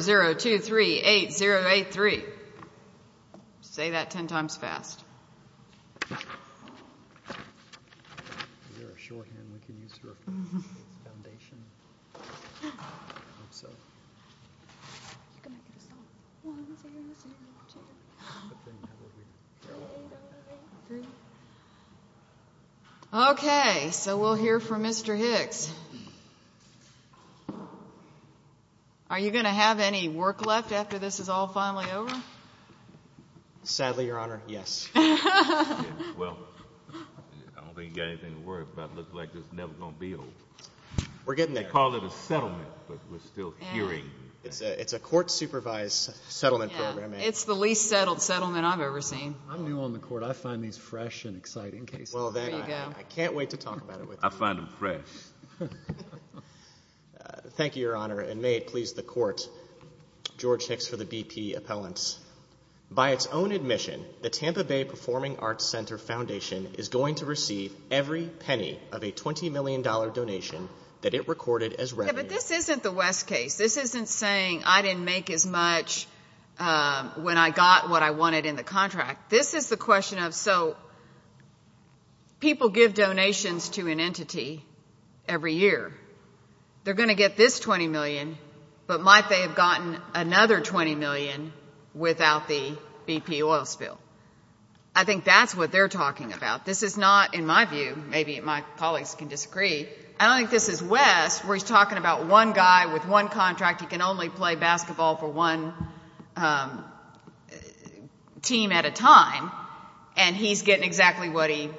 0238083. Say that ten times fast. Okay, so we'll hear from Mr. Hicks. Mr. Hicks, are you going to have any work left after this is all finally over? Sadly, Your Honor, yes. Well, I don't think you've got anything to worry about. It looks like it's never going to be over. We're getting there. They call it a settlement, but we're still hearing. It's a court-supervised settlement program. It's the least settled settlement I've ever seen. I'm new on the court. I find these fresh and exciting cases. Well, then, I can't wait to talk about it with you. I find them fresh. Thank you, Your Honor, and may it please the Court. George Hicks for the BP Appellants. By its own admission, the Tampa Bay Performing Arts Center Foundation is going to receive every penny of a $20 million donation that it recorded as revenue. Yeah, but this isn't the West case. This isn't saying I didn't make as much when I got what I wanted in the contract. This is the question of, so, people give donations to an entity every year. They're going to get this $20 million, but might they have gotten another $20 million without the BP oil spill? I think that's what they're talking about. This is not, in my view, maybe my colleagues can disagree, I don't think this is West, where he's talking about one guy with one contract. He can only play basketball for one team at a time, and he's getting exactly what he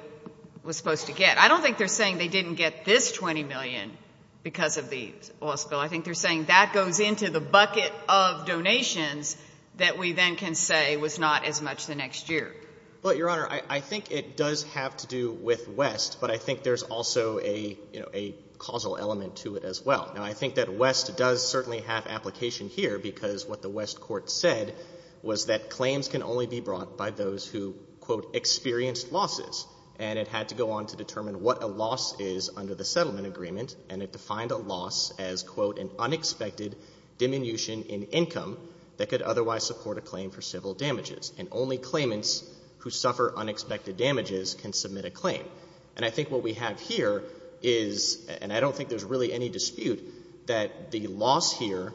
was supposed to get. I don't think they're saying they didn't get this $20 million because of the oil spill. I think they're saying that goes into the bucket of donations that we then can say was not as much the next year. Well, Your Honor, I think it does have to do with West, but I think there's also a causal element to it as well. Now, I think that West does certainly have application here because what the West court said was that claims can only be brought by those who, quote, experienced losses, and it had to go on to determine what a loss is under the settlement agreement, and it defined a loss as, quote, an unexpected diminution in income that could otherwise support a claim for civil damages, and only claimants who suffer unexpected damages can submit a claim. And I think what we have here is, and I don't think there's really any dispute, that the loss here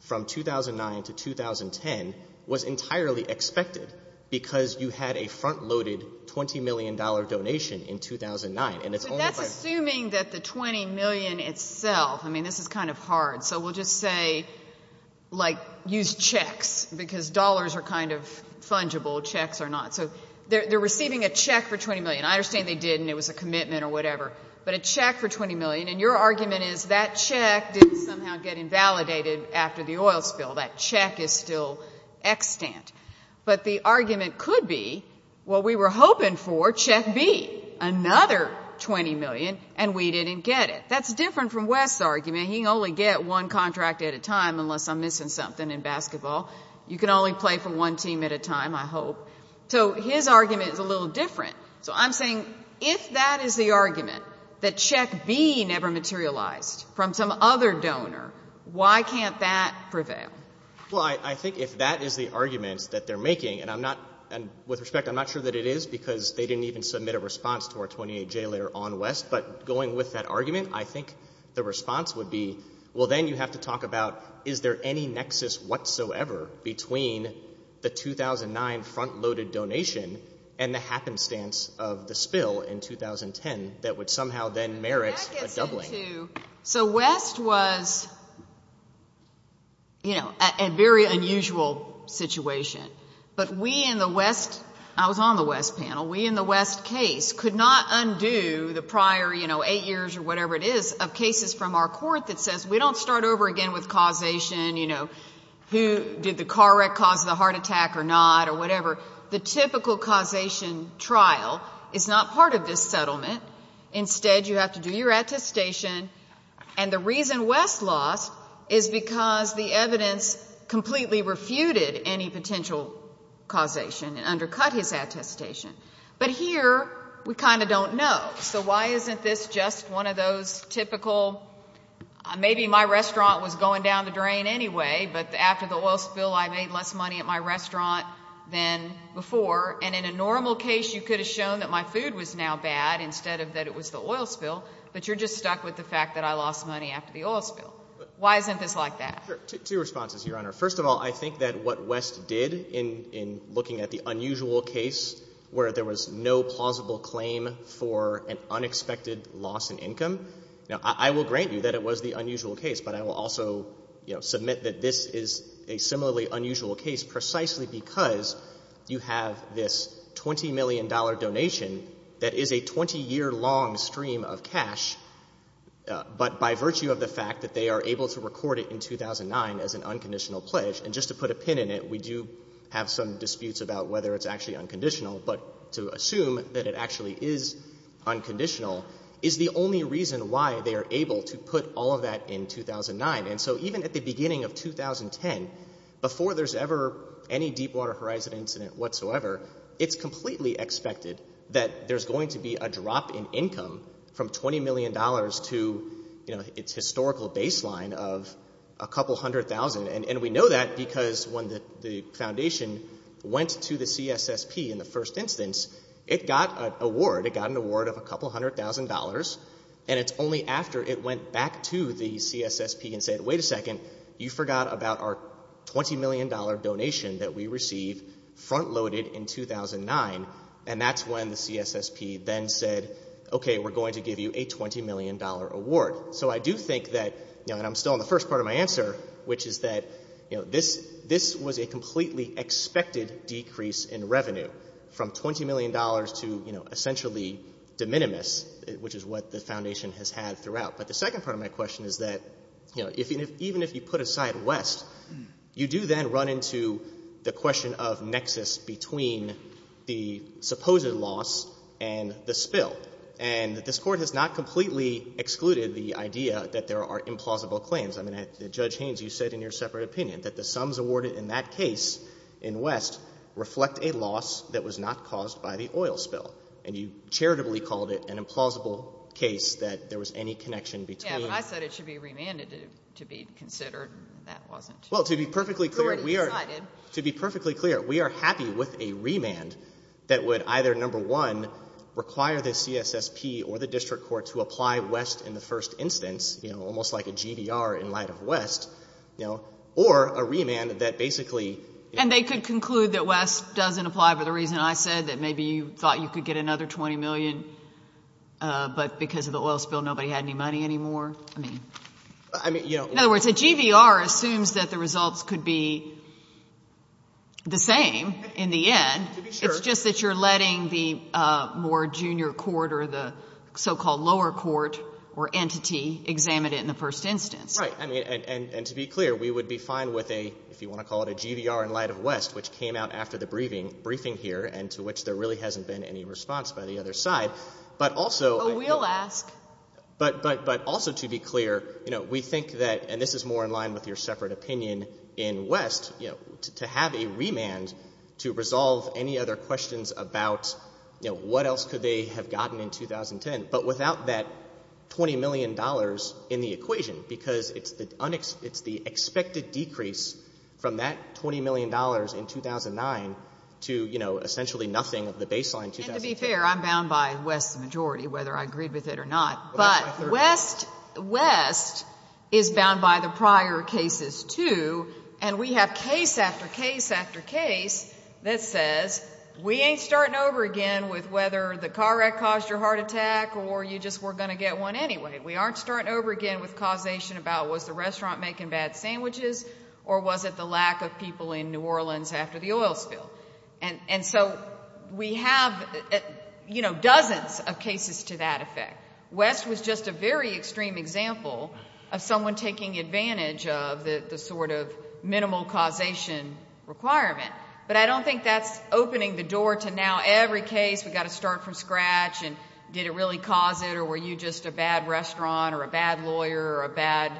from 2009 to 2010 was entirely expected because you had a front-loaded $20 million donation in 2009. But that's assuming that the $20 million itself, I mean, this is kind of hard, so we'll just say, like, use checks because dollars are kind of fungible. Checks are not. So they're receiving a check for $20 million. I understand they didn't. It was a commitment or whatever. But a check for $20 million, and your argument is that check didn't somehow get invalidated after the oil spill. That check is still extant. But the argument could be what we were hoping for, check B, another $20 million, and we didn't get it. That's different from West's argument. He can only get one contract at a time unless I'm missing something in basketball. You can only play for one team at a time, I hope. So his argument is a little different. So I'm saying if that is the argument, that check B never materialized from some other donor, why can't that prevail? Well, I think if that is the argument that they're making, and with respect, I'm not sure that it is because they didn't even submit a response to our 28-J letter on West. But going with that argument, I think the response would be, well, then you have to talk about is there any nexus whatsoever between the 2009 front-loaded donation and the happenstance of the spill in 2010 that would somehow then merit a doubling. So West was, you know, a very unusual situation. But we in the West, I was on the West panel, we in the West case could not undo the prior, you know, eight years or whatever it is of cases from our court that says we don't start over again with causation, you know, did the car wreck cause the heart attack or not or whatever. The typical causation trial is not part of this settlement. Instead, you have to do your attestation. And the reason West lost is because the evidence completely refuted any potential causation and undercut his attestation. But here, we kind of don't know. So why isn't this just one of those typical, maybe my restaurant was going down the drain anyway, but after the oil spill I made less money at my restaurant than before, and in a normal case you could have shown that my food was now bad instead of that it was the oil spill, but you're just stuck with the fact that I lost money after the oil spill. Why isn't this like that? Two responses, Your Honor. First of all, I think that what West did in looking at the unusual case where there was no plausible claim for an unexpected loss in income, I will grant you that it was the unusual case, but I will also submit that this is a similarly unusual case precisely because you have this $20 million donation that is a 20-year-long stream of cash, but by virtue of the fact that they are able to record it in 2009 as an unconditional pledge, and just to put a pin in it, we do have some disputes about whether it's actually unconditional, but to assume that it actually is unconditional is the only reason why they are able to put all of that in 2009, and so even at the beginning of 2010, before there's ever any Deepwater Horizon incident whatsoever, it's completely expected that there's going to be a drop in income from $20 million to its historical baseline of a couple hundred thousand, and we know that because when the foundation went to the CSSP in the first instance, it got an award of a couple hundred thousand dollars, and it's only after it went back to the CSSP and said, wait a second, you forgot about our $20 million donation that we received front-loaded in 2009, and that's when the CSSP then said, okay, we're going to give you a $20 million award. So I do think that, and I'm still in the first part of my answer, which is that this was a completely expected decrease in revenue from $20 million to essentially de minimis, which is what the foundation has had throughout. But the second part of my question is that even if you put aside West, you do then run into the question of nexus between the supposed loss and the spill, and this Court has not completely excluded the idea that there are implausible claims. I mean, Judge Haynes, you said in your separate opinion that the sums awarded in that case in West reflect a loss that was not caused by the oil spill, and you charitably called it an implausible case that there was any connection between. Yeah, but I said it should be remanded to be considered, and that wasn't. Well, to be perfectly clear, we are happy with a remand that would either, number one, require the CSSP or the district court to apply West in the first instance, almost like a GVR in light of West, or a remand that basically. And they could conclude that West doesn't apply for the reason I said, that maybe you thought you could get another $20 million, but because of the oil spill nobody had any money anymore? In other words, a GVR assumes that the results could be the same in the end. To be sure. It's just that you're letting the more junior court or the so-called lower court or entity examine it in the first instance. Right. And to be clear, we would be fine with a, if you want to call it a GVR in light of West, which came out after the briefing here and to which there really hasn't been any response by the other side. But also. We'll ask. But also to be clear, we think that, and this is more in line with your separate opinion in West, to have a remand to resolve any other questions about what else could they have gotten in 2010. But without that $20 million in the equation, because it's the expected decrease from that $20 million in 2009 to, you know, essentially nothing of the baseline in 2010. And to be fair, I'm bound by West's majority, whether I agreed with it or not. But West is bound by the prior cases, too. And we have case after case after case that says we ain't starting over again with whether the car wreck caused your heart attack or you just were going to get one anyway. We aren't starting over again with causation about was the restaurant making bad sandwiches or was it the lack of people in New Orleans after the oil spill. And so we have, you know, dozens of cases to that effect. West was just a very extreme example of someone taking advantage of the sort of minimal causation requirement. But I don't think that's opening the door to now every case, we've got to start from scratch, and did it really cause it or were you just a bad restaurant or a bad lawyer or a bad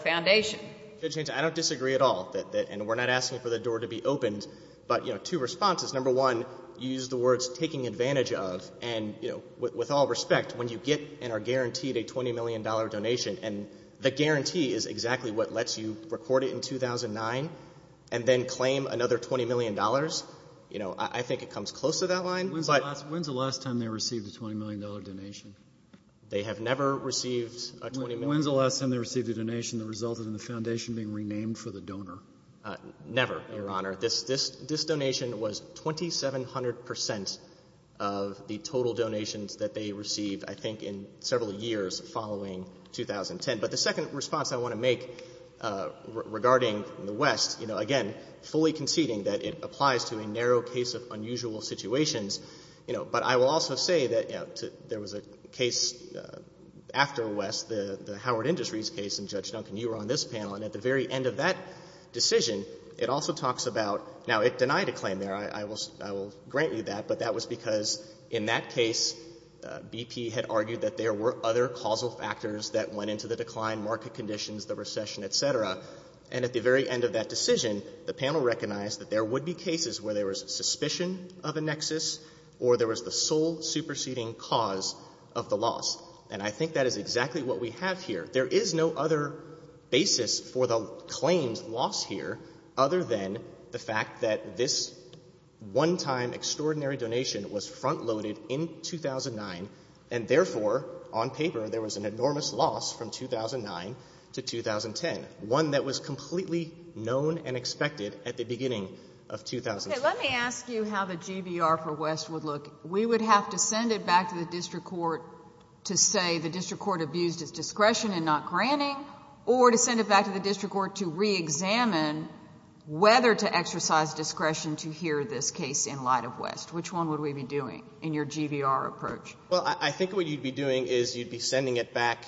foundation. I don't disagree at all. And we're not asking for the door to be opened. But, you know, two responses. Number one, you used the words taking advantage of. And, you know, with all respect, when you get and are guaranteed a $20 million donation, and the guarantee is exactly what lets you record it in 2009 and then claim another $20 million, you know, I think it comes close to that line. When's the last time they received a $20 million donation? They have never received a $20 million. When's the last time they received a donation that resulted in the foundation being renamed for the donor? Never, Your Honor. This donation was 2,700% of the total donations that they received, I think, in several years following 2010. But the second response I want to make regarding the West, you know, again, fully conceding that it applies to a narrow case of unusual situations, you know, but I will also say that there was a case after West, the Howard Industries case, and Judge Duncan, you were on this panel. And at the very end of that decision, it also talks about, now, it denied a claim there. I will grant you that, but that was because in that case BP had argued that there were other causal factors that went into the decline, market conditions, the recession, et cetera. And at the very end of that decision, the panel recognized that there would be cases where there was suspicion of a nexus or there was the sole superseding cause of the loss. And I think that is exactly what we have here. There is no other basis for the claims loss here other than the fact that this one-time extraordinary donation was front-loaded in 2009, and therefore, on paper, there was an enormous loss from 2009 to 2010, one that was completely known and expected at the beginning of 2010. Let me ask you how the GBR for West would look. We would have to send it back to the district court to say the district court abused its discretion in not granting or to send it back to the district court to reexamine whether to exercise discretion to hear this case in light of West. Which one would we be doing in your GBR approach? Well, I think what you would be doing is you would be sending it back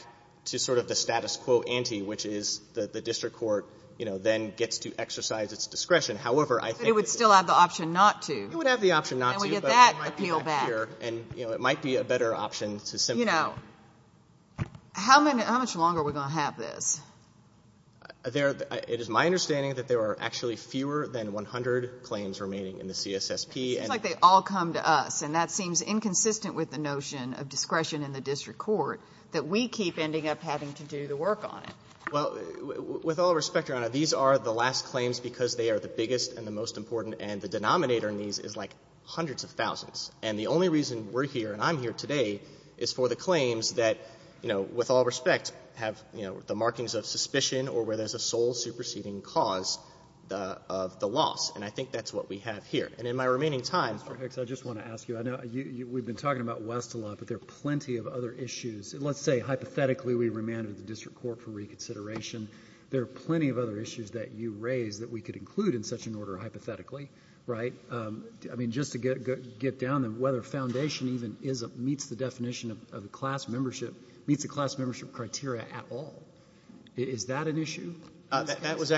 to sort of the status quo ante, which is the district court, you know, then gets to exercise its discretion. However, I think it would still have the option not to. It would have the option not to. And we get that appeal back. And, you know, it might be a better option to simply. You know, how much longer are we going to have this? It is my understanding that there are actually fewer than 100 claims remaining in the CSSP. It seems like they all come to us, and that seems inconsistent with the notion of discretion in the district court, that we keep ending up having to do the work on it. Well, with all respect, Your Honor, these are the last claims because they are the biggest and the most important, and the denominator in these is like hundreds of thousands. And the only reason we're here and I'm here today is for the claims that, you know, with all respect, have the markings of suspicion or where there's a sole superseding cause of the loss. And I think that's what we have here. And in my remaining time. Mr. Hicks, I just want to ask you. We've been talking about West a lot, but there are plenty of other issues. Let's say hypothetically we remanded the district court for reconsideration. There are plenty of other issues that you raised that we could include in such an order hypothetically, right? I mean, just to get down to whether foundation even meets the definition of a class membership, meets the class membership criteria at all. Is that an issue? That was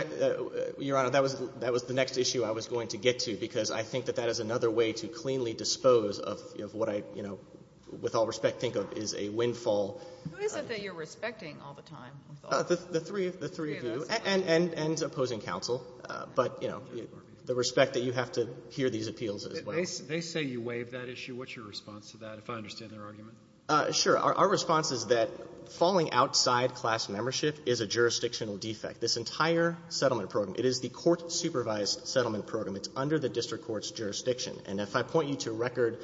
the next issue I was going to get to because I think that that is another way to cleanly dispose of what I, you know, with all respect, think of as a windfall. Who is it that you're respecting all the time? The three of you and opposing counsel. But, you know, the respect that you have to hear these appeals as well. They say you waived that issue. What's your response to that, if I understand their argument? Sure. Our response is that falling outside class membership is a jurisdictional defect. This entire settlement program, it is the court-supervised settlement program. It's under the district court's jurisdiction. And if I point you to Record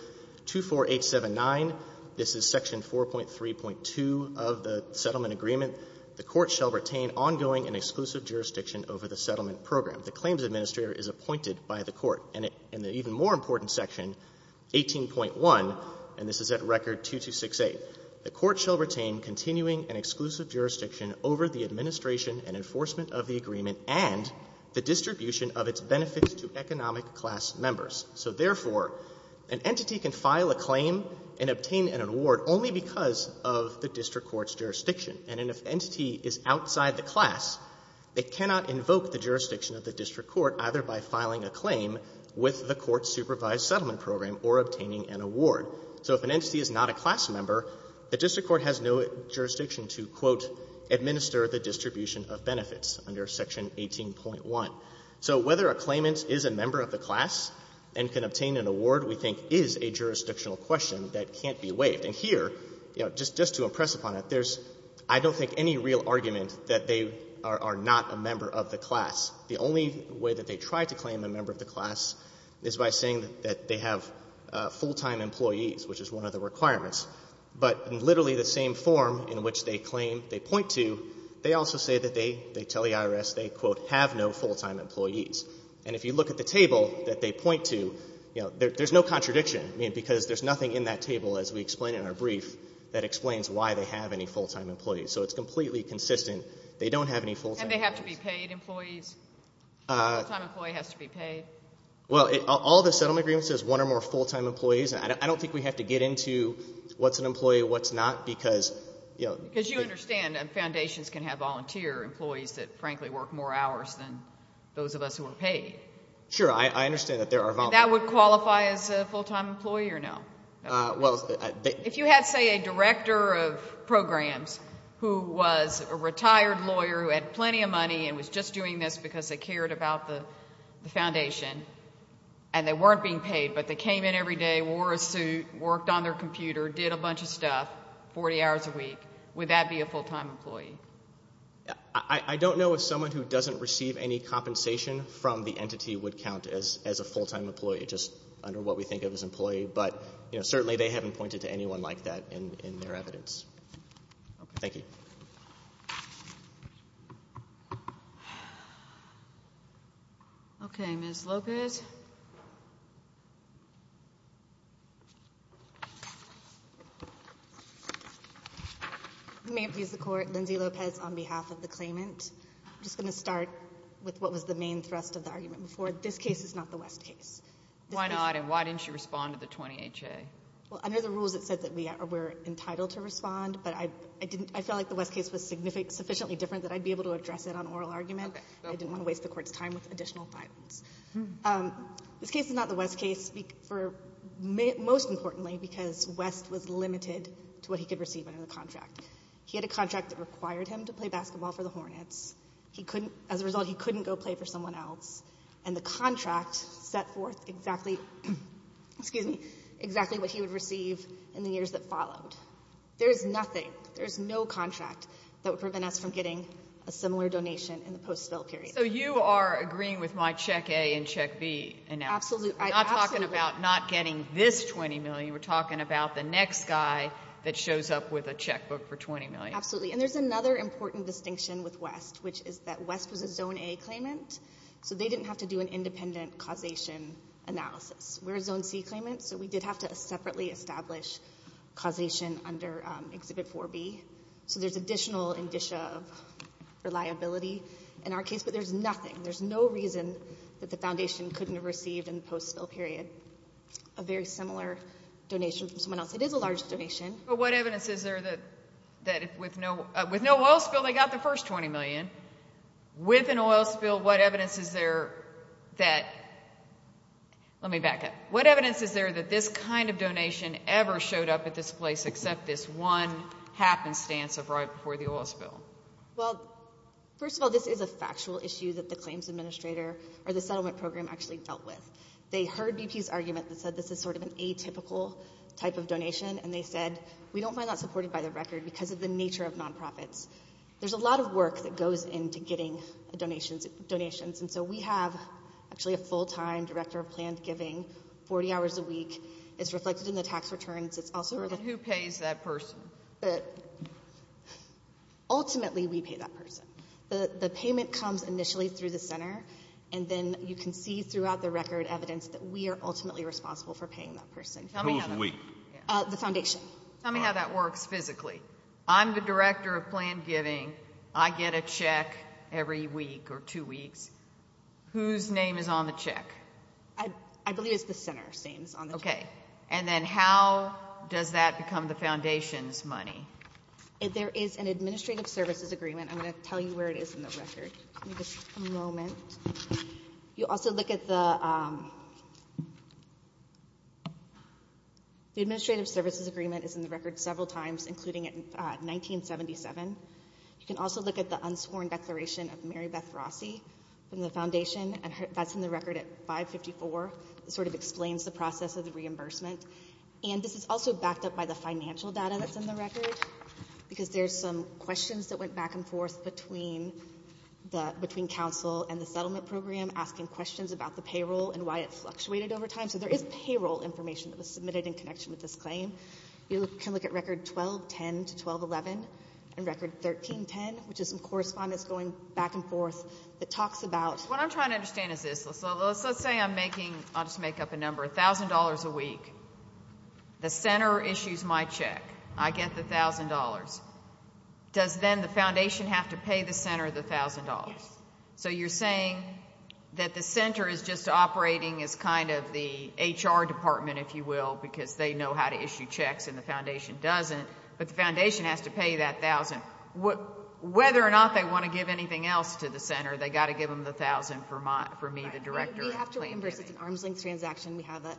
24879, this is Section 4.3.2 of the settlement agreement, the court shall retain ongoing and exclusive jurisdiction over the settlement program. The claims administrator is appointed by the court. And the even more important section, 18.1, and this is at Record 2268, the court shall retain continuing and exclusive jurisdiction over the administration and enforcement of the agreement and the distribution of its benefits to economic class members. So therefore, an entity can file a claim and obtain an award only because of the district court's jurisdiction. And if an entity is outside the class, it cannot invoke the jurisdiction of the district court either by filing a claim with the court-supervised settlement program or obtaining an award. So if an entity is not a class member, the district court has no jurisdiction to, quote, administer the distribution of benefits under Section 18.1. So whether a claimant is a member of the class and can obtain an award, we think, is a jurisdictional question that can't be waived. And here, just to impress upon it, there's, I don't think, any real argument that they are not a member of the class. The only way that they try to claim a member of the class is by saying that they have full-time employees, which is one of the requirements. But in literally the same form in which they claim, they point to, they also say that they tell the IRS they, quote, have no full-time employees. And if you look at the table that they point to, you know, there's no contradiction, because there's nothing in that table as we explain in our brief that explains why they have any full-time employees. So it's completely consistent. They don't have any full-time employees. And they have to be paid employees? A full-time employee has to be paid? Well, all the settlement agreement says one or more full-time employees. I don't think we have to get into what's an employee, what's not, because, you know. Because you understand that foundations can have volunteer employees that, frankly, work more hours than those of us who are paid. Sure. I understand that there are volunteers. And that would qualify as a full-time employee or no? Well. If you had, say, a director of programs who was a retired lawyer who had plenty of money and was just doing this because they cared about the foundation, and they weren't being paid but they came in every day, wore a suit, worked on their computer, did a bunch of stuff 40 hours a week, would that be a full-time employee? I don't know if someone who doesn't receive any compensation from the entity would count as a full-time employee, just under what we think of as employee. But, you know, certainly they haven't pointed to anyone like that in their evidence. Thank you. Okay. Ms. Lopez. May it please the Court, Lindsay Lopez on behalf of the claimant. I'm just going to start with what was the main thrust of the argument before. This case is not the West case. Why not? And why didn't you respond to the 20HA? Well, under the rules it said that we're entitled to respond, but I felt like the West case was sufficiently different that I'd be able to address it on oral argument. I didn't want to waste the Court's time with additional files. This case is not the West case, most importantly because West was limited to what he could receive under the contract. He had a contract that required him to play basketball for the Hornets. As a result, he couldn't go play for someone else. And the contract set forth exactly what he would receive in the years that followed. There is nothing, there is no contract that would prevent us from getting a similar donation in the post-spill period. So you are agreeing with my check A and check B analysis. Absolutely. We're not talking about not getting this $20 million. We're talking about the next guy that shows up with a checkbook for $20 million. Absolutely. And there's another important distinction with West, which is that West was a Zone A claimant, so they didn't have to do an independent causation analysis. We're a Zone C claimant, so we did have to separately establish causation under Exhibit 4B. So there's additional indicia of reliability in our case, but there's nothing, there's no reason that the Foundation couldn't have received in the post-spill period a very similar donation from someone else. It is a large donation. But what evidence is there that with no oil spill they got the first $20 million? With an oil spill, what evidence is there that, let me back up, what evidence is there that this kind of donation ever showed up at this place except this one happenstance of right before the oil spill? Well, first of all, this is a factual issue that the claims administrator or the settlement program actually dealt with. They heard BP's argument that said this is sort of an atypical type of donation, and they said we don't find that supported by the record because of the nature of nonprofits. There's a lot of work that goes into getting donations, and so we have actually a full-time director of planned giving 40 hours a week. It's reflected in the tax returns. Who pays that person? Ultimately, we pay that person. The payment comes initially through the center, and then you can see throughout the record evidence that we are ultimately responsible for paying that person. Who is we? The Foundation. Tell me how that works physically. I'm the director of planned giving. I get a check every week or two weeks. Whose name is on the check? I believe it's the center saying it's on the check. Okay. And then how does that become the Foundation's money? There is an administrative services agreement. I'm going to tell you where it is in the record. Give me just a moment. You also look at the administrative services agreement is in the record several times, including 1977. You can also look at the unsworn declaration of Mary Beth Rossi from the Foundation, and that's in the record at 554. It sort of explains the process of the reimbursement, and this is also backed up by the financial data that's in the record because there's some questions that went back and forth between council and the settlement program, asking questions about the payroll and why it fluctuated over time. So there is payroll information that was submitted in connection with this claim. You can look at record 1210 to 1211 and record 1310, which is some correspondence going back and forth that talks about... What I'm trying to understand is this. Let's say I'm making, I'll just make up a number, $1,000 a week. The center issues my check. I get the $1,000. Does then the Foundation have to pay the center the $1,000? Yes. So you're saying that the center is just operating as kind of the HR department, if you will, because they know how to issue checks and the Foundation doesn't, but the Foundation has to pay that $1,000. Whether or not they want to give anything else to the center, they've got to give them the $1,000 for me, the director. Right. We have to reimburse. It's an arm's length transaction. We have an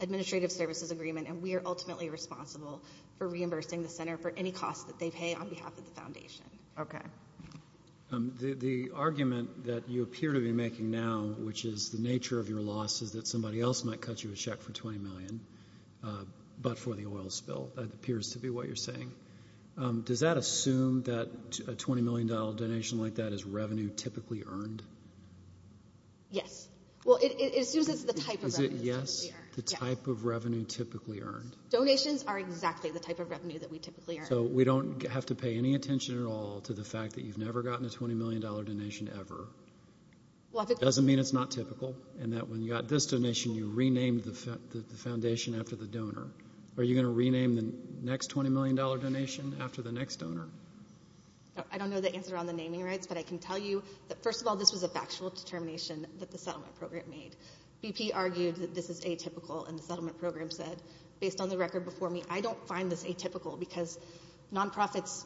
administrative services agreement, and we are ultimately responsible for reimbursing the center for any costs that they pay on behalf of the Foundation. Okay. The argument that you appear to be making now, which is the nature of your loss, is that somebody else might cut you a check for $20 million but for the oil spill. That appears to be what you're saying. Does that assume that a $20 million donation like that is revenue typically earned? Yes. Well, it assumes it's the type of revenue typically earned. Is it yes, the type of revenue typically earned? Donations are exactly the type of revenue that we typically earn. So we don't have to pay any attention at all to the fact that you've never gotten a $20 million donation ever. It doesn't mean it's not typical and that when you got this donation, you renamed the Foundation after the donor. Are you going to rename the next $20 million donation after the next donor? I don't know the answer on the naming rights, but I can tell you that, first of all, this was a factual determination that the settlement program made. BP argued that this is atypical, and the settlement program said, based on the record before me, I don't find this atypical because nonprofits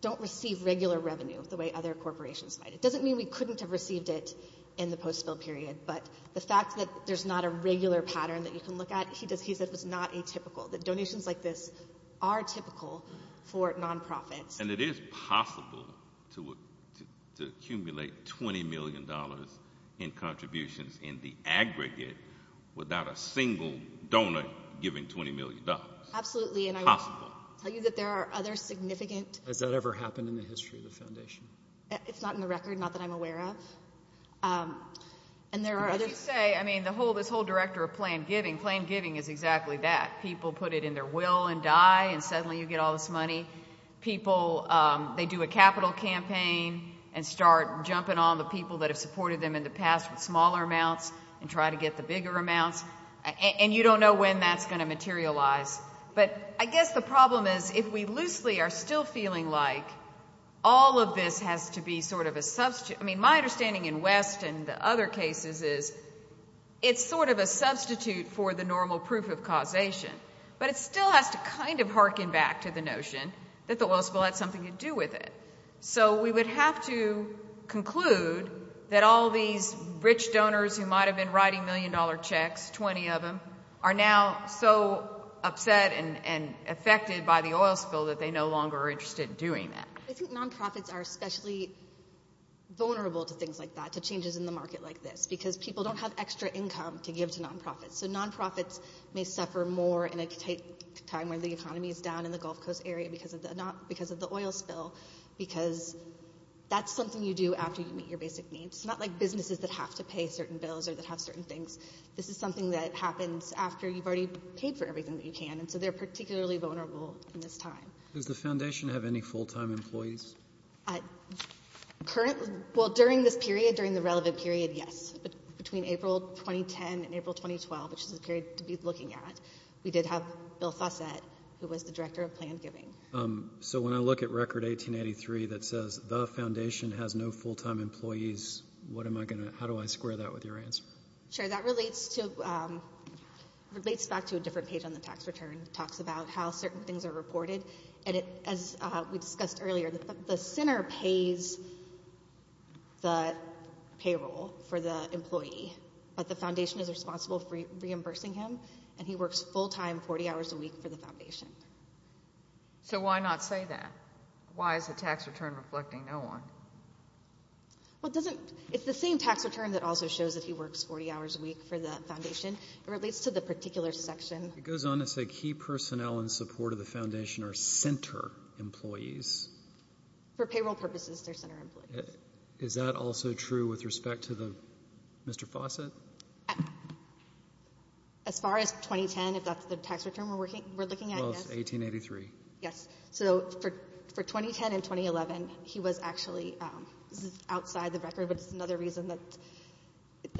don't receive regular revenue the way other corporations might. It doesn't mean we couldn't have received it in the post-spill period, but the fact that there's not a regular pattern that you can look at, he said it was not atypical, that donations like this are typical for nonprofits. And it is possible to accumulate $20 million in contributions in the aggregate without a single donor giving $20 million. Absolutely. It's possible. And I will tell you that there are other significant— Has that ever happened in the history of the Foundation? It's not in the record, not that I'm aware of. And there are other— What you say, I mean, this whole director of planned giving, planned giving is exactly that. People put it in their will and die, and suddenly you get all this money. People, they do a capital campaign and start jumping on the people that have supported them in the past with smaller amounts and try to get the bigger amounts, and you don't know when that's going to materialize. But I guess the problem is if we loosely are still feeling like all of this has to be sort of a— I mean, my understanding in West and the other cases is it's sort of a substitute for the normal proof of causation, but it still has to kind of harken back to the notion that the oil spill had something to do with it. So we would have to conclude that all these rich donors who might have been writing million-dollar checks, 20 of them, are now so upset and affected by the oil spill that they no longer are interested in doing that. I think nonprofits are especially vulnerable to things like that, to changes in the market like this, because people don't have extra income to give to nonprofits. So nonprofits may suffer more in a time when the economy is down in the Gulf Coast area because of the oil spill, because that's something you do after you meet your basic needs. It's not like businesses that have to pay certain bills or that have certain things. This is something that happens after you've already paid for everything that you can, and so they're particularly vulnerable in this time. Does the Foundation have any full-time employees? Well, during this period, during the relevant period, yes. Between April 2010 and April 2012, which is the period to be looking at, we did have Bill Fossett, who was the director of planned giving. So when I look at Record 1883 that says the Foundation has no full-time employees, how do I square that with your answer? Sure, that relates back to a different page on the tax return. It talks about how certain things are reported, and as we discussed earlier, the center pays the payroll for the employee, but the Foundation is responsible for reimbursing him, and he works full-time 40 hours a week for the Foundation. So why not say that? Why is the tax return reflecting no one? Well, it's the same tax return that also shows that he works 40 hours a week for the Foundation. It relates to the particular section. It goes on to say key personnel in support of the Foundation are center employees. For payroll purposes, they're center employees. Is that also true with respect to Mr. Fossett? As far as 2010, if that's the tax return we're looking at, yes. Well, it's 1883. Yes. So for 2010 and 2011, he was actually outside the record, but it's another reason that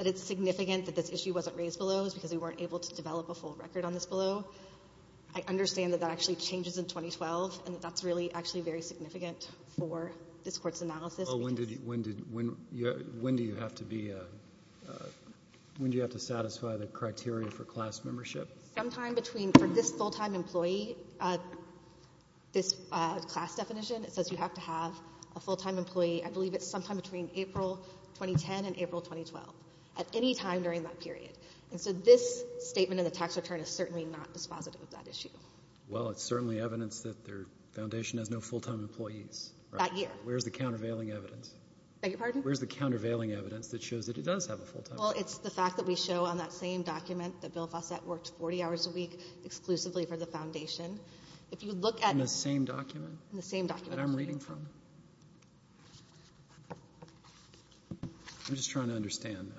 it's significant that this issue wasn't raised below because we weren't able to develop a full record on this below. I understand that that actually changes in 2012, and that's really actually very significant for this Court's analysis. When do you have to satisfy the criteria for class membership? Sometime between for this full-time employee, this class definition, it says you have to have a full-time employee, I believe it's sometime between April 2010 and April 2012, at any time during that period. And so this statement of the tax return is certainly not dispositive of that issue. Well, it's certainly evidence that their Foundation has no full-time employees. That year. Where's the countervailing evidence? Beg your pardon? Where's the countervailing evidence that shows that it does have a full-time employee? Well, it's the fact that we show on that same document that Bill Fossett worked 40 hours a week exclusively for the Foundation. In the same document? In the same document. That I'm reading from? I'm just trying to understand.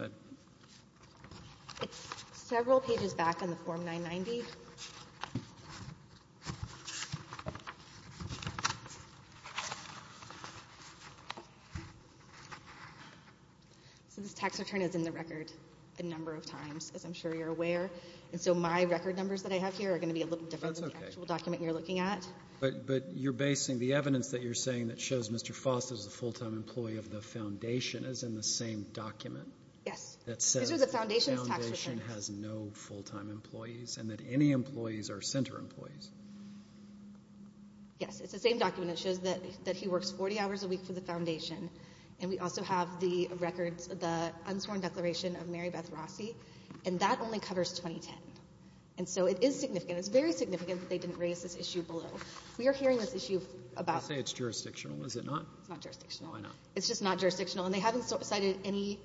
It's several pages back in the Form 990. So this tax return is in the record a number of times, as I'm sure you're aware, and so my record numbers that I have here are going to be a little different than the actual document you're looking at. But you're basing the evidence that you're saying that shows Mr. Fossett is a full-time employee of the Foundation as in the same document? Yes. That says the Foundation has no full-time employees and that any employees are center employees. Yes. It's the same document that shows that he works 40 hours a week for the Foundation, and we also have the records of the unsworn declaration of Mary Beth Rossi, and that only covers 2010. And so it is significant. It's very significant that they didn't raise this issue below. We are hearing this issue about... You say it's jurisdictional. Is it not? It's not jurisdictional. Why not? It's just not jurisdictional, and they haven't cited any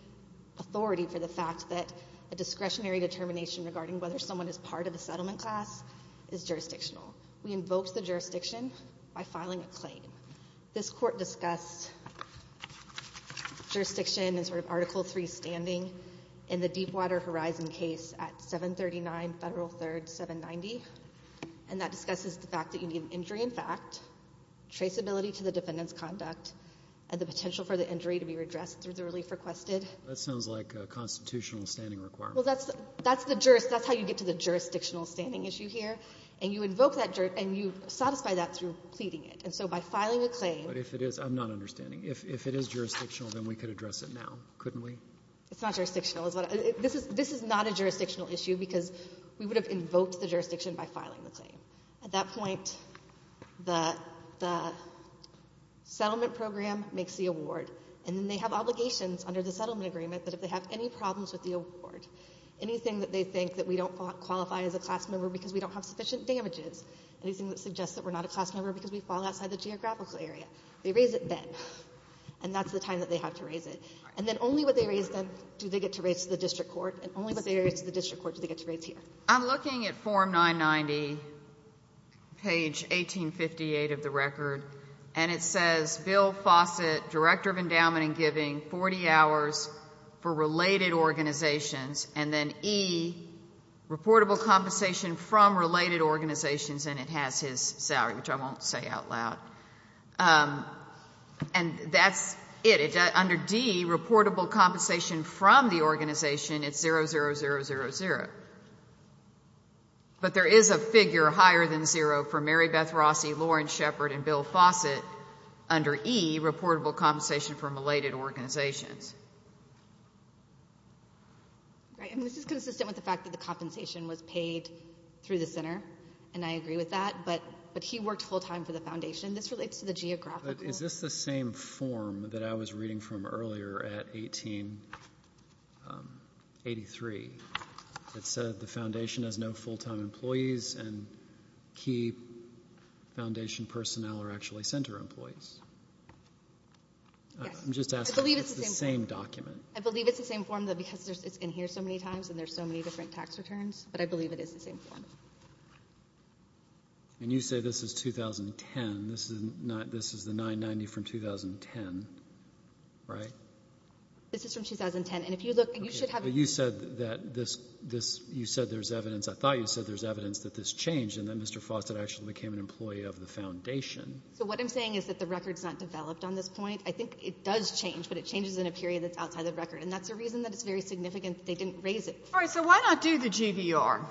authority for the fact that a discretionary determination regarding whether someone is part of the settlement class is jurisdictional. We invoked the jurisdiction by filing a claim. This Court discussed jurisdiction in sort of Article III standing in the Deepwater Horizon case at 739 Federal 3rd 790, and that discusses the fact that you need an injury in fact, traceability to the defendant's conduct, and the potential for the injury to be redressed through the relief requested. That sounds like a constitutional standing requirement. Well, that's how you get to the jurisdictional standing issue here, and you invoke that and you satisfy that through pleading it. And so by filing a claim... But if it is, I'm not understanding. If it is jurisdictional, then we could address it now, couldn't we? It's not jurisdictional. This is not a jurisdictional issue because we would have invoked the jurisdiction by filing the claim. At that point, the settlement program makes the award, and then they have obligations under the settlement agreement that if they have any problems with the award, anything that they think that we don't qualify as a class member because we don't have sufficient damages, anything that suggests that we're not a class member because we fall outside the geographical area, they raise it then. And that's the time that they have to raise it. And then only what they raise then do they get to raise to the district court, and only what they raise to the district court do they get to raise here. I'm looking at Form 990, page 1858 of the record, and it says, Bill Fawcett, Director of Endowment and Giving, 40 hours for related organizations, and then E, reportable compensation from related organizations, and it has his salary, which I won't say out loud. And that's it. Under D, reportable compensation from the organization, it's 0, 0, 0, 0, 0. But there is a figure higher than zero for Mary Beth Rossi, Lauren Shepard, and Bill Fawcett. Under E, reportable compensation from related organizations. Right, and this is consistent with the fact that the compensation was paid through the center, and I agree with that, but he worked full time for the foundation. This relates to the geographical. But is this the same form that I was reading from earlier at 1883 that said the foundation has no full time employees and key foundation personnel are actually center employees? I'm just asking if it's the same document. I believe it's the same form because it's in here so many times and there's so many different tax returns, but I believe it is the same form. And you say this is 2010. This is the 990 from 2010, right? This is from 2010. You said there's evidence. I thought you said there's evidence that this changed and that Mr. Fawcett actually became an employee of the foundation. So what I'm saying is that the record's not developed on this point. I think it does change, but it changes in a period that's outside the record, and that's the reason that it's very significant that they didn't raise it. All right, so why not do the GVR?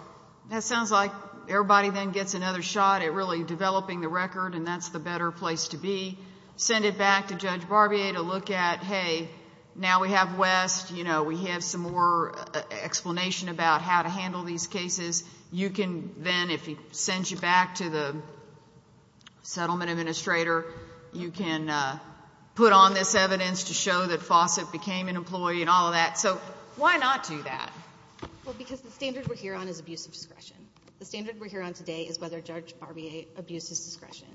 That sounds like everybody then gets another shot at really developing the record and that's the better place to be. Send it back to Judge Barbier to look at, hey, now we have West. We have some more explanation about how to handle these cases. You can then, if he sends you back to the settlement administrator, you can put on this evidence to show that Fawcett became an employee and all of that. So why not do that? The standard we're here on today is whether Judge Barbier abused his discretion.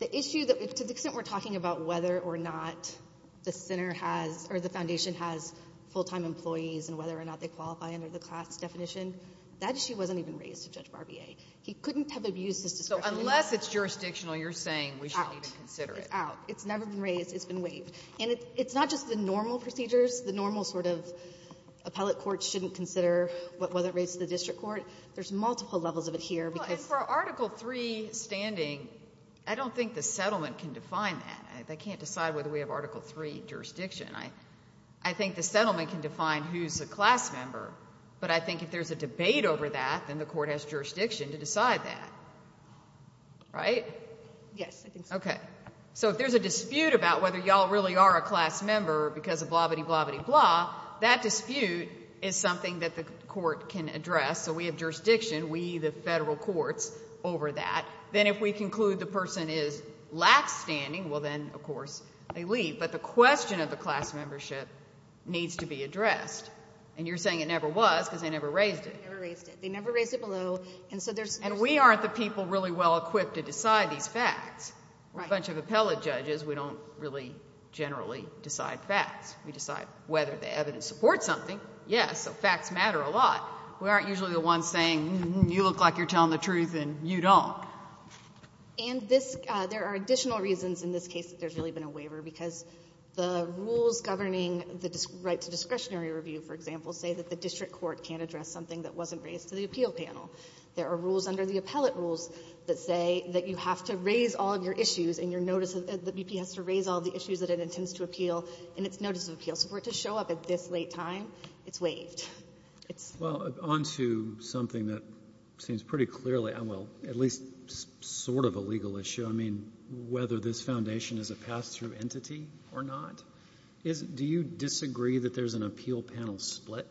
To the extent we're talking about whether or not the center has or the foundation has full-time employees and whether or not they qualify under the class definition, that issue wasn't even raised to Judge Barbier. He couldn't have abused his discretion. So unless it's jurisdictional, you're saying we should even consider it. It's out. It's out. It's never been raised. It's been waived. And it's not just the normal procedures. The normal sort of appellate court shouldn't consider whether it raised to the district court. There's multiple levels of it here. And for Article III standing, I don't think the settlement can define that. They can't decide whether we have Article III jurisdiction. I think the settlement can define who's a class member, but I think if there's a debate over that, then the court has jurisdiction to decide that. Right? Yes, I think so. Okay. So if there's a dispute about whether you all really are a class member because of blah, bitty, blah, bitty, blah, that dispute is something that the court can address. So we have jurisdiction, we, the federal courts, over that. Then if we conclude the person is lax standing, well then, of course, they leave. But the question of the class membership needs to be addressed. And you're saying it never was because they never raised it. They never raised it. They never raised it below. And we aren't the people really well equipped to decide these facts. A bunch of appellate judges, we don't really generally decide facts. We decide whether the evidence supports something. Yes, so facts matter a lot. We aren't usually the ones saying, you look like you're telling the truth and you don't. And there are additional reasons in this case that there's really been a waiver because the rules governing the right to discretionary review, for example, say that the district court can't address something that wasn't raised to the appeal panel. There are rules under the appellate rules that say that you have to raise all of your issues and your notice of the BP has to raise all the issues that it intends to appeal in its notice of appeal. So for it to show up at this late time, it's waived. Well, on to something that seems pretty clearly, well, at least sort of a legal issue. I mean, whether this foundation is a pass-through entity or not. Do you disagree that there's an appeal panel split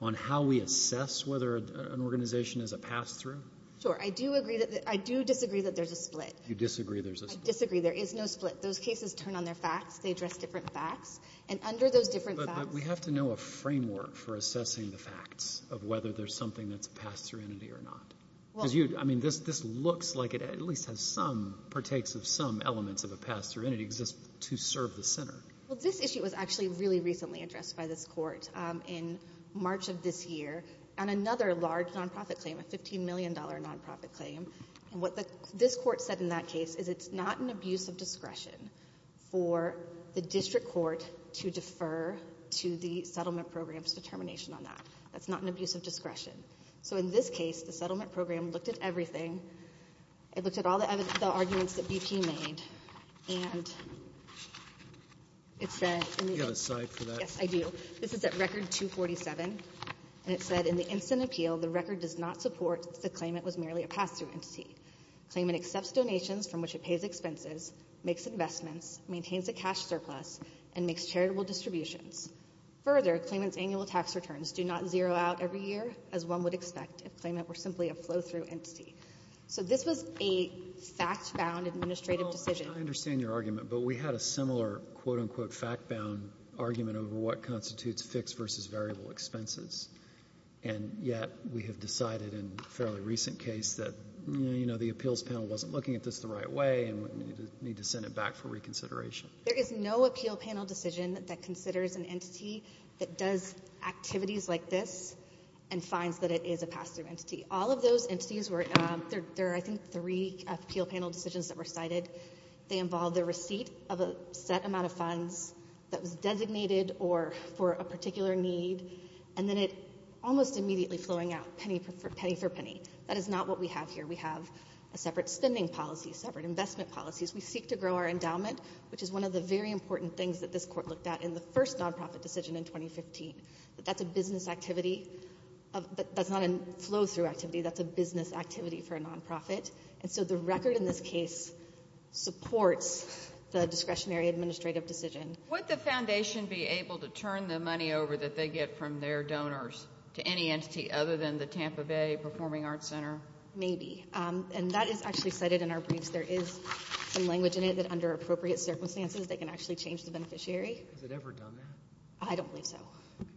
on how we assess whether an organization is a pass-through? Sure, I do disagree that there's a split. You disagree there's a split. I disagree there is no split. Those cases turn on their facts. They address different facts. And under those different facts. But we have to know a framework for assessing the facts of whether there's something that's a pass-through entity or not. I mean, this looks like it at least has some, partakes of some elements of a pass-through entity to serve the center. Well, this issue was actually really recently addressed by this court in March of this year on another large non-profit claim, a $15 million non-profit claim. And what this court said in that case is it's not an abuse of discretion for the district court to defer to the settlement program's determination on that. That's not an abuse of discretion. So in this case, the settlement program looked at everything. It looked at all the arguments that BP made and it said Do you have a cite for that? Yes, I do. This is at record 247. And it said in the instant appeal, the record does not support the claim it was merely a pass-through entity. Claimant accepts donations from which it pays expenses, makes investments, maintains a cash surplus, and makes charitable distributions. Further, claimant's annual tax returns do not zero out every year as one would expect if claimant were simply a flow-through entity. So this was a fact-bound administrative decision. I understand your argument, but we had a similar quote-unquote fact-bound argument over what constitutes fixed versus variable expenses. And yet we have decided in a fairly recent case that, you know, the appeals panel wasn't looking at this the right way and would need to send it back for reconsideration. There is no appeal panel decision that considers an entity that does activities like this and finds that it is a pass-through entity. All of those entities were – there are, I think, three appeal panel decisions that were cited. They involve the receipt of a set amount of funds that was designated or for a particular need, and then it almost immediately flowing out penny for penny. That is not what we have here. We have a separate spending policy, separate investment policies. We seek to grow our endowment, which is one of the very important things that this court looked at in the first nonprofit decision in 2015. But that's a business activity. That's not a flow-through activity. That's a business activity for a nonprofit. And so the record in this case supports the discretionary administrative decision. Would the foundation be able to turn the money over that they get from their donors to any entity other than the Tampa Bay Performing Arts Center? Maybe. And that is actually cited in our briefs. There is some language in it that under appropriate circumstances they can actually change the beneficiary. Has it ever done that? I don't believe so.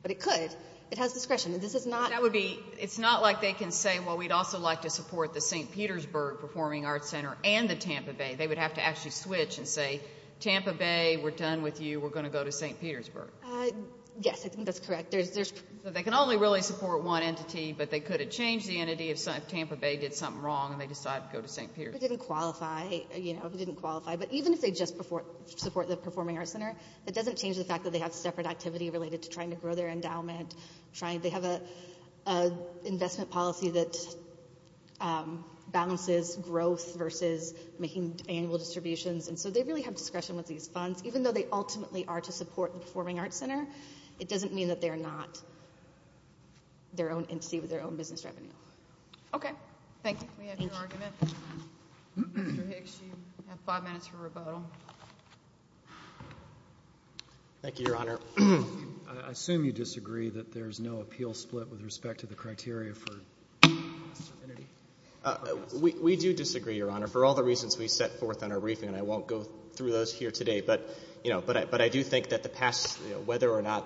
But it could. It has discretion. This is not – That would be – it's not like they can say, well, we'd also like to support the St. Petersburg Performing Arts Center and the Tampa Bay. They would have to actually switch and say, Tampa Bay, we're done with you, we're going to go to St. Petersburg. Yes, I think that's correct. They can only really support one entity, but they could have changed the entity if Tampa Bay did something wrong and they decided to go to St. Petersburg. It didn't qualify. It didn't qualify. But even if they just support the Performing Arts Center, it doesn't change the fact that they have separate activity related to trying to grow their endowment. They have an investment policy that balances growth versus making annual distributions, and so they really have discretion with these funds. Even though they ultimately are to support the Performing Arts Center, it doesn't mean that they're not their own entity with their own business revenue. Okay, thank you. We have your argument. Mr. Hicks, you have five minutes for rebuttal. Thank you, Your Honor. I assume you disagree that there's no appeal split with respect to the criteria for serenity? We do disagree, Your Honor, for all the reasons we set forth on our briefing, and I won't go through those here today. But I do think that the past, whether or not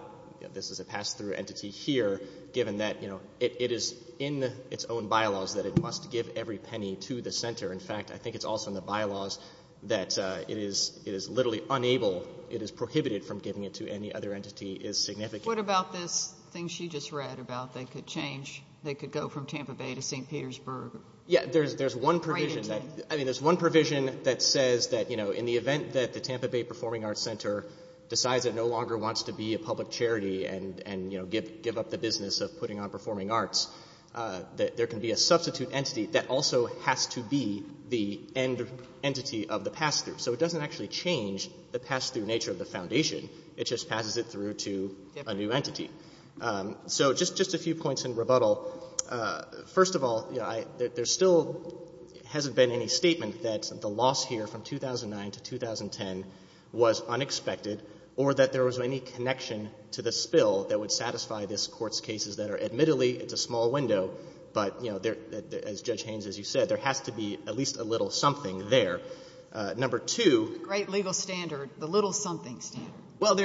this is a pass-through entity here, given that it is in its own bylaws that it must give every penny to the center. In fact, I think it's also in the bylaws that it is literally unable, it is prohibited from giving it to any other entity is significant. What about this thing she just read about they could change, they could go from Tampa Bay to St. Petersburg? Yeah, there's one provision that says that in the event that the Tampa Bay Performing Arts Center decides it no longer wants to be a public charity and give up the business of putting on performing arts, that there can be a substitute entity that also has to be the entity of the pass-through. So it doesn't actually change the pass-through nature of the foundation. It just passes it through to a new entity. So just a few points in rebuttal. First of all, there still hasn't been any statement that the loss here from 2009 to 2010 was unexpected or that there was any connection to the spill that would satisfy this Court's cases that are admittedly, it's a small window, but as Judge Haynes, as you said, there has to be at least a little something there. Great legal standard, the little something standard.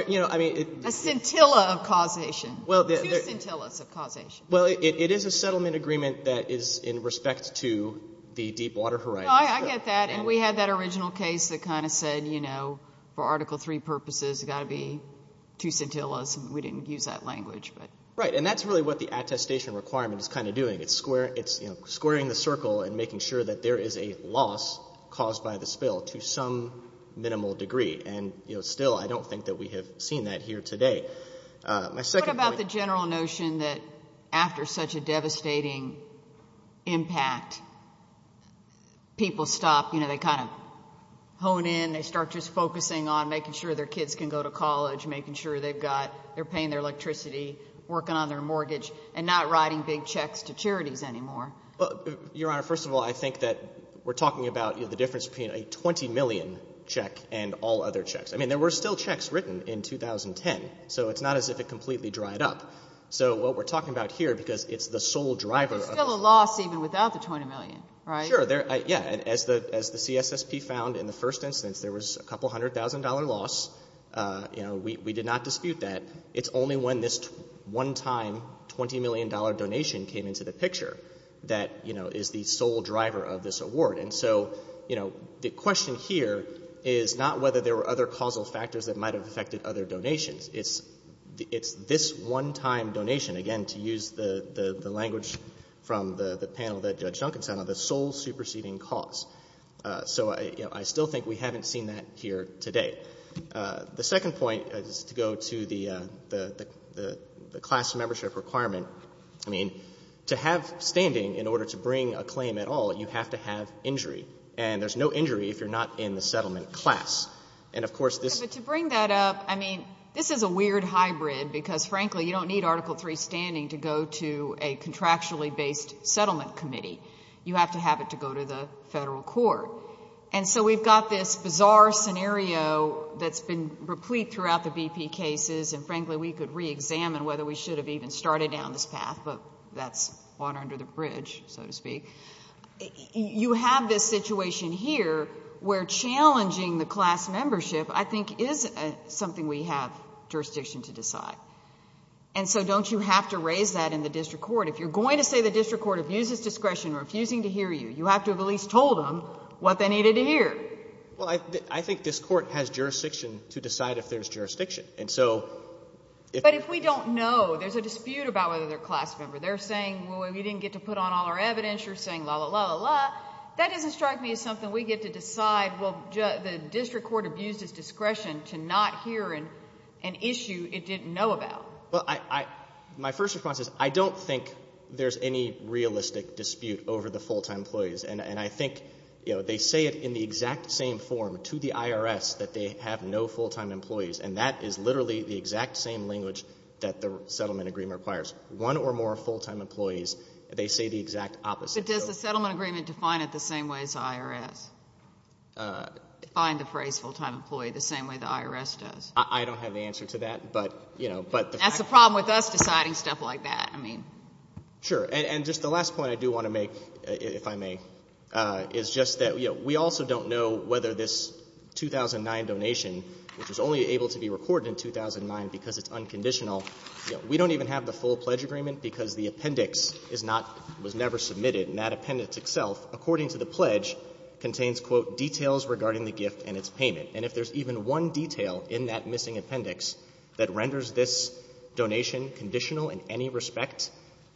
A scintilla of causation. Two scintillas of causation. Well, it is a settlement agreement that is in respect to the deep water horizon. I get that, and we had that original case that kind of said, you know, for Article III purposes it's got to be two scintillas, and we didn't use that language. Right, and that's really what the attestation requirement is kind of doing. It's squaring the circle and making sure that there is a loss caused by the spill to some minimal degree, and still I don't think that we have seen that here today. What about the general notion that after such a devastating impact, people stop, you know, they kind of hone in, they start just focusing on making sure their kids can go to college, making sure they've got, they're paying their electricity, working on their mortgage, and not writing big checks to charities anymore? Well, Your Honor, first of all, I think that we're talking about the difference between a $20 million check and all other checks. I mean, there were still checks written in 2010, so it's not as if it completely dried up. So what we're talking about here, because it's the sole driver of this. There's still a loss even without the $20 million, right? Sure. Yeah, and as the CSSP found in the first instance, there was a couple hundred thousand dollar loss. You know, we did not dispute that. It's only when this one-time $20 million donation came into the picture that, you know, is the sole driver of this award. And so, you know, the question here is not whether there were other causal factors that might have affected other donations. It's this one-time donation, again, to use the language from the panel that Judge Duncan sent, the sole superseding cause. So, you know, I still think we haven't seen that here today. The second point is to go to the class membership requirement. I mean, to have standing in order to bring a claim at all, you have to have injury. And there's no injury if you're not in the settlement class. And, of course, this — But to bring that up, I mean, this is a weird hybrid because, frankly, you don't need Article III standing to go to a contractually-based settlement committee. You have to have it to go to the federal court. And so we've got this bizarre scenario that's been replete throughout the BP cases. And, frankly, we could reexamine whether we should have even started down this path, but that's water under the bridge, so to speak. You have this situation here where challenging the class membership, I think, is something we have jurisdiction to decide. And so don't you have to raise that in the district court? If you're going to say the district court abuses discretion, refusing to hear you, you have to have at least told them what they needed to hear. Well, I think this court has jurisdiction to decide if there's jurisdiction. And so if— But if we don't know, there's a dispute about whether they're a class member. They're saying, well, we didn't get to put on all our evidence. You're saying, la, la, la, la, la. That doesn't strike me as something we get to decide, well, the district court abused its discretion to not hear an issue it didn't know about. My first response is I don't think there's any realistic dispute over the full-time employees. And I think they say it in the exact same form to the IRS that they have no full-time employees, and that is literally the exact same language that the settlement agreement requires. One or more full-time employees, they say the exact opposite. But does the settlement agreement define it the same way as the IRS? Define the phrase full-time employee the same way the IRS does? I don't have the answer to that. But, you know, but the fact— That's the problem with us deciding stuff like that. I mean— Sure. And just the last point I do want to make, if I may, is just that, you know, we also don't know whether this 2009 donation, which was only able to be recorded in 2009 because it's unconditional, you know, we don't even have the full pledge agreement because the appendix is not—was never submitted. And that appendix itself, according to the pledge, contains, quote, details regarding the gift and its payment. And if there's even one detail in that missing appendix that renders this donation conditional in any respect,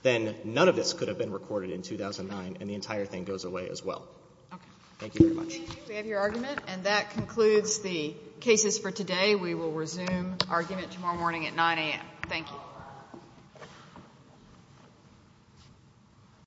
then none of this could have been recorded in 2009, and the entire thing goes away as well. Okay. Thank you very much. We have your argument, and that concludes the cases for today. We will resume argument tomorrow morning at 9 a.m. Thank you.